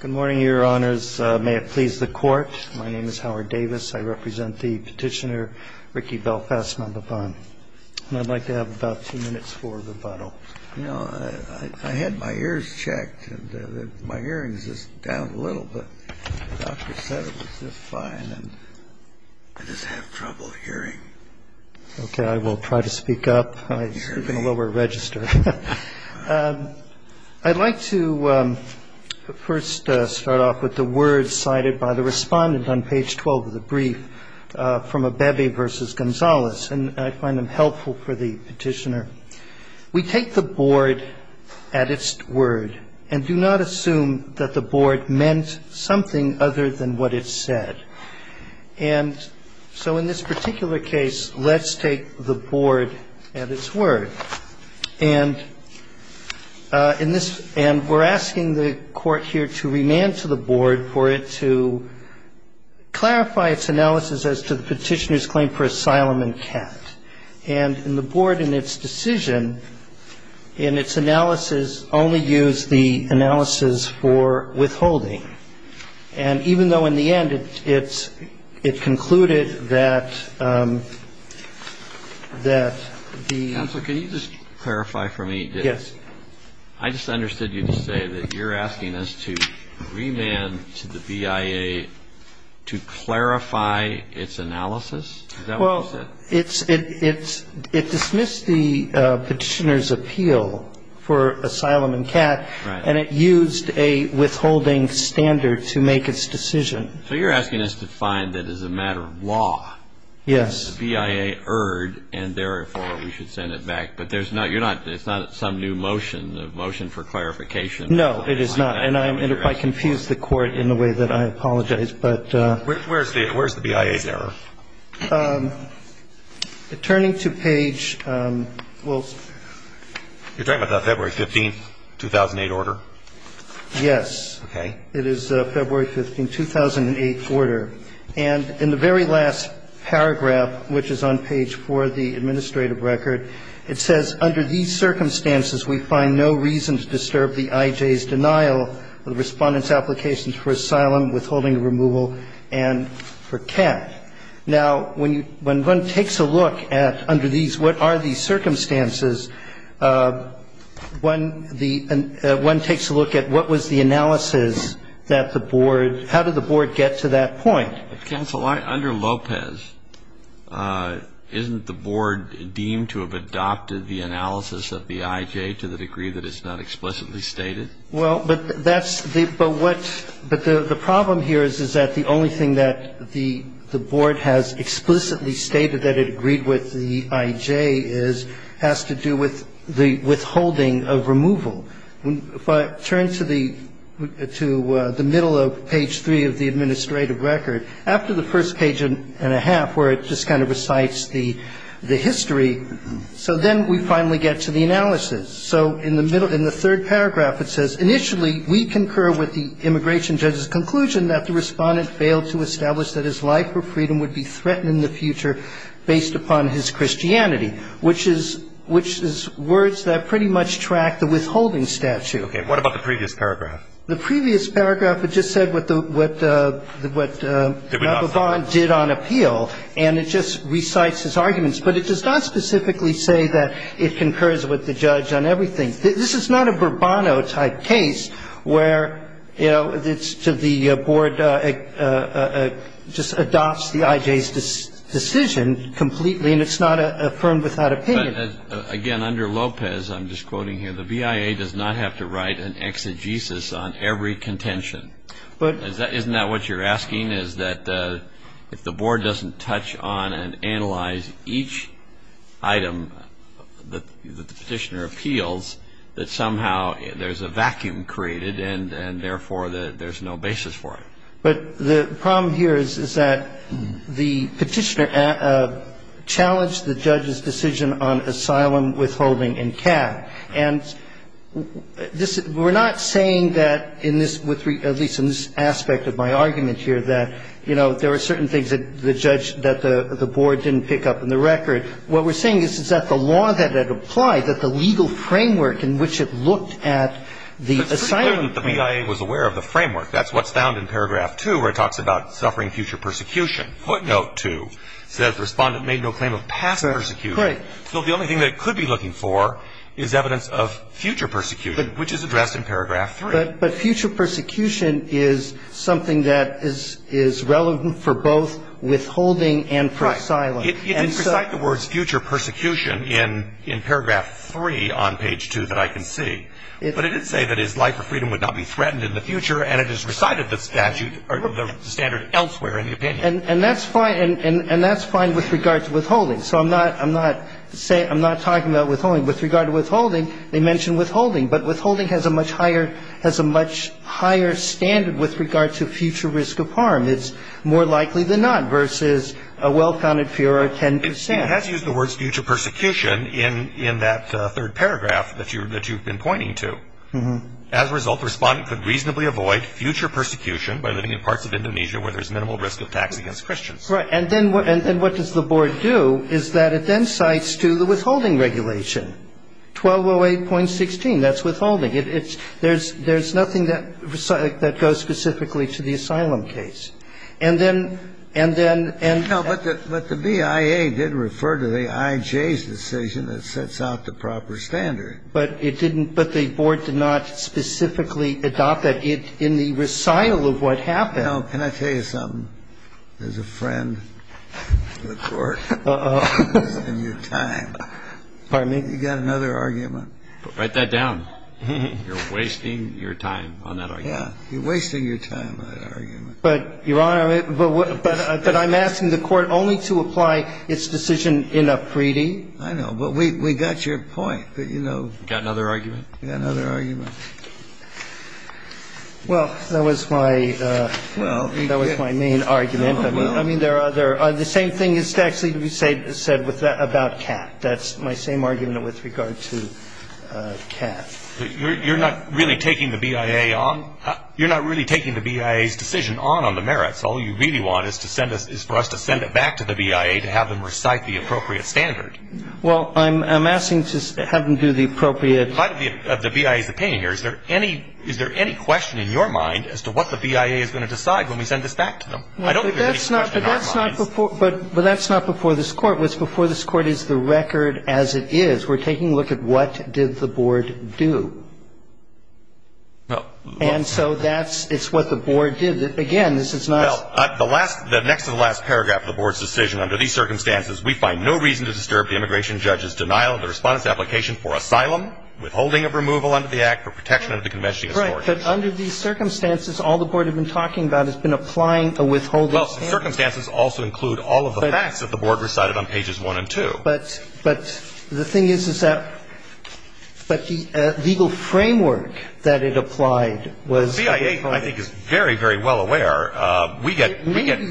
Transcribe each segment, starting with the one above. Good morning, Your Honors. May it please the Court, my name is Howard Davis. I represent the petitioner Ricky Belfast Nababan. And I'd like to have about two minutes for rebuttal. You know, I had my ears checked and my hearing's just down a little bit. The doctor said it was just fine and I just have trouble hearing. Okay, I will try to speak up. I speak in a lower register. I'd like to first start off with the words cited by the respondent on page 12 of the brief from Abebe v. Gonzalez. And I find them helpful for the petitioner. We take the board at its word and do not assume that the board meant something other than what it said. And so in this particular case, let's take the board at its word. And in this ‑‑ and we're asking the Court here to remand to the board for it to clarify its analysis as to the petitioner's claim for asylum and cat. And the board in its decision, in its analysis, only used the analysis for withholding. And even though in the end it concluded that the ‑‑ Counsel, can you just clarify for me? Yes. I just understood you to say that you're asking us to remand to the BIA to clarify its analysis? Is that what you said? It's ‑‑ it dismissed the petitioner's appeal for asylum and cat. Right. And it used a withholding standard to make its decision. So you're asking us to find that as a matter of law. Yes. The BIA erred, and therefore we should send it back. But there's not ‑‑ you're not ‑‑ it's not some new motion, a motion for clarification. No, it is not. And if I confuse the Court in the way that I apologize, but ‑‑ Where's the BIA's error? Turning to page ‑‑ well ‑‑ You're talking about the February 15th, 2008 order? Yes. Okay. It is February 15th, 2008 order. And in the very last paragraph, which is on page 4 of the administrative record, it says, under these circumstances we find no reason to disturb the IJ's denial of the Respondent's applications for asylum, withholding, removal, and for cat. Now, when one takes a look at under these, what are these circumstances, one takes a look at what was the analysis that the board ‑‑ how did the board get to that point? Counsel, under Lopez, isn't the board deemed to have adopted the analysis of the IJ to the degree that it's not explicitly stated? Well, but that's the ‑‑ but what ‑‑ but the problem here is that the only thing that the board has explicitly stated that it agreed with the IJ is ‑‑ has to do with the withholding of removal. If I turn to the middle of page 3 of the administrative record, after the first page and a half, where it just kind of recites the history, so then we finally get to the analysis. So in the middle ‑‑ in the third paragraph, it says, initially, we concur with the immigration judge's conclusion that the Respondent failed to establish that his life or freedom would be threatened in the future based upon his Christianity, which is ‑‑ which is words that pretty much track the withholding statute. Okay. What about the previous paragraph? The previous paragraph, it just said what the ‑‑ what Ravabon did on appeal, and it just recites his arguments. But it does not specifically say that it concurs with the judge on everything. This is not a Bourbon type case where, you know, it's to the board just adopts the IJ's decision completely, and it's not affirmed without opinion. But, again, under Lopez, I'm just quoting here, the BIA does not have to write an exegesis on every contention. But ‑‑ But the problem here is that the petitioner challenged the judge's decision on asylum withholding in CAD. And this ‑‑ we're not saying that in this ‑‑ at least in this aspect of my argument here, that, you know, there are certain things that the judge does not agree with. I'm not saying that the board didn't pick up on the record. What we're saying is that the law that had applied, that the legal framework in which it looked at the asylum ‑‑ But it's pretty clear that the BIA was aware of the framework. That's what's found in paragraph 2 where it talks about suffering future persecution. Footnote 2 says the Respondent made no claim of past persecution. Right. So the only thing that it could be looking for is evidence of future persecution, which is addressed in paragraph 3. But future persecution is something that is relevant for both withholding and for asylum. Right. It did recite the words future persecution in paragraph 3 on page 2 that I can see. But it did say that his life or freedom would not be threatened in the future. And it has recited the statute or the standard elsewhere in the opinion. And that's fine. And that's fine with regard to withholding. So I'm not ‑‑ I'm not saying ‑‑ I'm not talking about withholding. With regard to withholding, they mention withholding. But withholding has a much higher ‑‑ has a much higher standard with regard to future risk of harm. It's more likely than not versus a well‑founded fear of 10 percent. It has used the words future persecution in that third paragraph that you've been pointing to. As a result, the Respondent could reasonably avoid future persecution by living in parts of Indonesia where there's minimal risk of tax against Christians. Right. And then what does the board do is that it then cites to the withholding regulation, 1208.16. That's withholding. It's ‑‑ there's nothing that goes specifically to the asylum case. And then ‑‑ and then ‑‑ No, but the BIA did refer to the IJ's decision that sets out the proper standard. But it didn't ‑‑ but the board did not specifically adopt that in the recital of what happened. No. Can I tell you something? There's a friend of the Court in your time. Pardon me? You've got another argument. Write that down. You're wasting your time on that argument. Yeah. You're wasting your time on that argument. But, Your Honor, but I'm asking the Court only to apply its decision in a preeding. I know. But we got your point. But, you know ‑‑ You've got another argument? We've got another argument. Well, that was my ‑‑ that was my main argument. I mean, there are other ‑‑ the same thing is actually said about CAP. That's my same argument with regard to CAP. You're not really taking the BIA on? You're not really taking the BIA's decision on on the merits. All you really want is to send us ‑‑ is for us to send it back to the BIA to have them recite the appropriate standard. Well, I'm asking to have them do the appropriate ‑‑ Part of the BIA's opinion here, is there any ‑‑ is there any question in your mind as to what the BIA is going to decide when we send this back to them? I don't think there's any question in our minds. But that's not before this Court. What's before this Court is the record as it is. We're taking a look at what did the Board do. And so that's ‑‑ it's what the Board did. Again, this is not ‑‑ Well, the last ‑‑ the next to the last paragraph of the Board's decision under these circumstances, we find no reason to disturb the immigration judge's denial of the Respondent's application for asylum, withholding of removal under the Act, or protection under the Convention of Human Rights. Right. Well, circumstances also include all of the facts that the Board recited on pages 1 and 2. But the thing is, is that ‑‑ but the legal framework that it applied was ‑‑ The BIA, I think, is very, very well aware. We get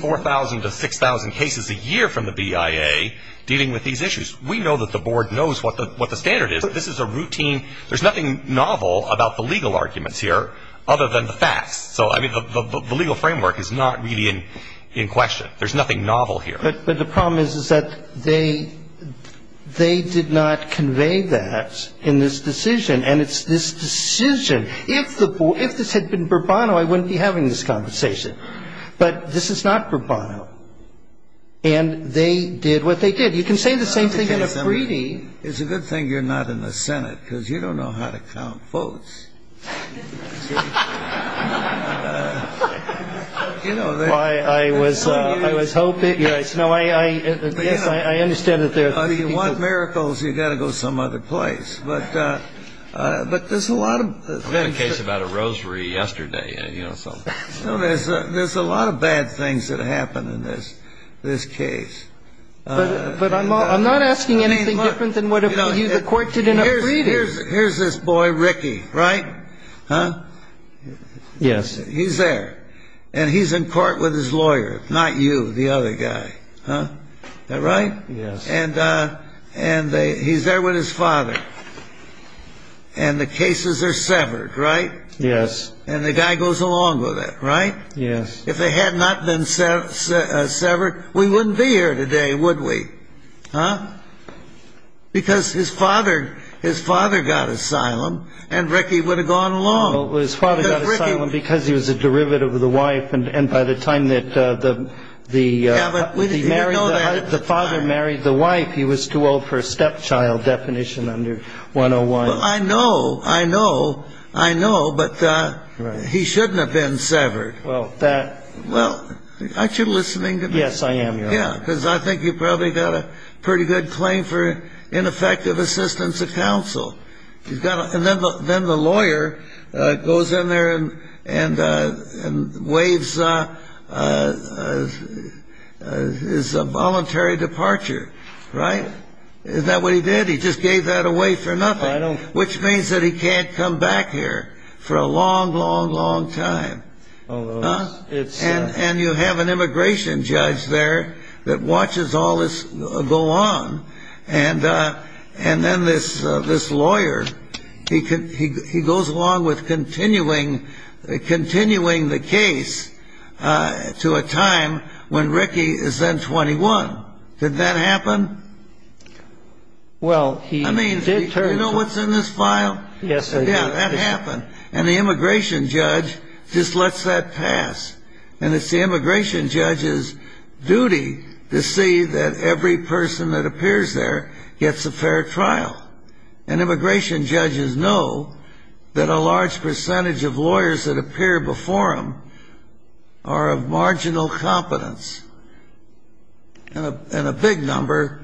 4,000 to 6,000 cases a year from the BIA dealing with these issues. We know that the Board knows what the standard is. This is a routine ‑‑ there's nothing novel about the legal arguments here other than the facts. So, I mean, the legal framework is not really in question. There's nothing novel here. But the problem is, is that they did not convey that in this decision. And it's this decision. If this had been Bourbono, I wouldn't be having this conversation. But this is not Bourbono. And they did what they did. You can say the same thing in a free‑d. It's a good thing you're not in the Senate, because you don't know how to count votes. I was hoping ‑‑ yes, I understand that there are three people. If you want miracles, you've got to go some other place. But there's a lot of ‑‑ I heard a case about a rosary yesterday. There's a lot of bad things that happen in this case. But I'm not asking anything different than what the court did in a free‑d. Here's this boy, Ricky, right? Yes. He's there. And he's in court with his lawyer, not you, the other guy. Is that right? Yes. And he's there with his father. And the cases are severed, right? Yes. And the guy goes along with it, right? Yes. If they had not been severed, we wouldn't be here today, would we? Huh? Because his father got asylum, and Ricky would have gone along. Well, his father got asylum because he was a derivative of the wife, and by the time that the father married the wife, he was too old for a stepchild definition under 101. Well, I know, I know, I know, but he shouldn't have been severed. Well, that ‑‑ Well, aren't you listening to me? Yes, I am, Your Honor. Yeah, because I think you probably got a pretty good claim for ineffective assistance of counsel. And then the lawyer goes in there and waives his voluntary departure, right? Isn't that what he did? He just gave that away for nothing, which means that he can't come back here for a long, long, long time. And you have an immigration judge there that watches all this go on, and then this lawyer, he goes along with continuing the case to a time when Ricky is then 21. Did that happen? Well, he did turn to ‑‑ I mean, do you know what's in this file? Yes, I do. Yeah, that happened. And the immigration judge just lets that pass. And it's the immigration judge's duty to see that every person that appears there gets a fair trial. And immigration judges know that a large percentage of lawyers that appear before them are of marginal competence. And a big number,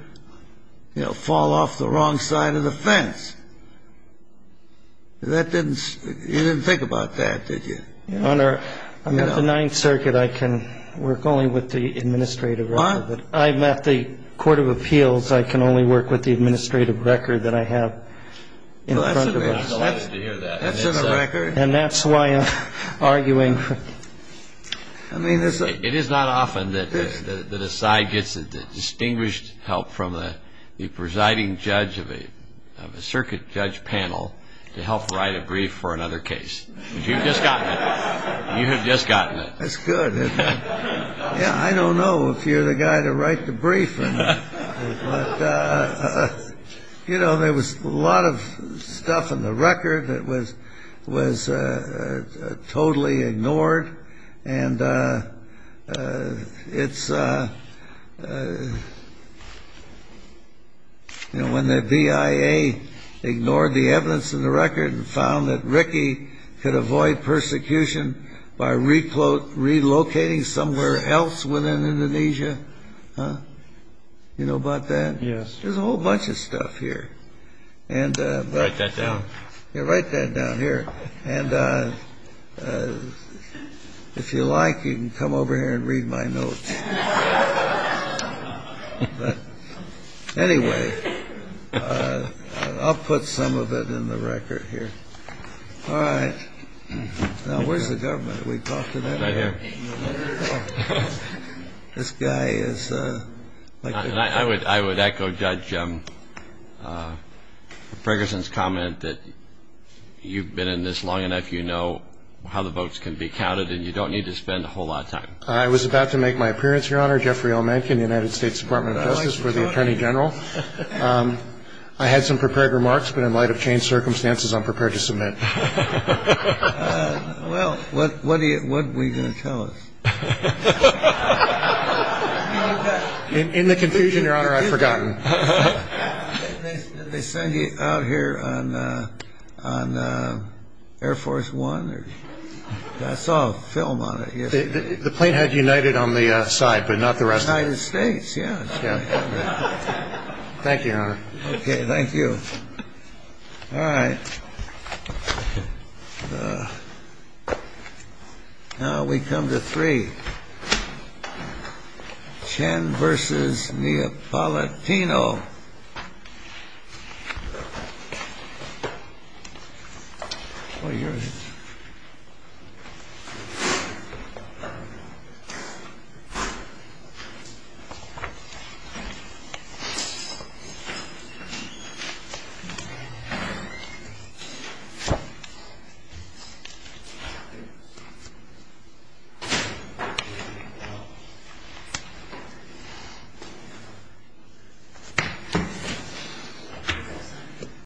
you know, fall off the wrong side of the fence. That didn't ‑‑ you didn't think about that, did you? Your Honor, I'm at the Ninth Circuit. I can work only with the administrative record. What? I'm at the Court of Appeals. I can only work with the administrative record that I have in front of us. Well, that's a good thing to hear that. That's in the record. And that's why I'm arguing. I mean, it's a ‑‑ It is not often that a side gets the distinguished help from the presiding judge of a circuit judge panel to help write a brief for another case. You've just gotten it. You have just gotten it. That's good. Yeah, I don't know if you're the guy to write the brief. But, you know, there was a lot of stuff in the record that was totally ignored. And it's ‑‑ you know, when the BIA ignored the evidence in the record and found that Ricky could avoid persecution by relocating somewhere else within Indonesia. You know about that? Yes. There's a whole bunch of stuff here. Write that down. Yeah, write that down here. And if you like, you can come over here and read my notes. But anyway, I'll put some of it in the record here. All right. Now, where's the government? Did we talk to them? Right here. This guy is ‑‑ I would echo Judge Ferguson's comment that you've been in this long enough. You know how the votes can be counted. And you don't need to spend a whole lot of time. I was about to make my appearance, Your Honor. Jeffrey L. Mankin, United States Department of Justice for the Attorney General. I had some prepared remarks. But in light of changed circumstances, I'm prepared to submit. Well, what are you going to tell us? In the confusion, Your Honor, I've forgotten. Did they send you out here on Air Force One? I saw a film on it yesterday. The plane had United on the side, but not the rest of it. United States, yeah. Thank you, Your Honor. Okay, thank you. All right. Now we come to three. Chen versus Neapolitano. What year is it? I'm sorry.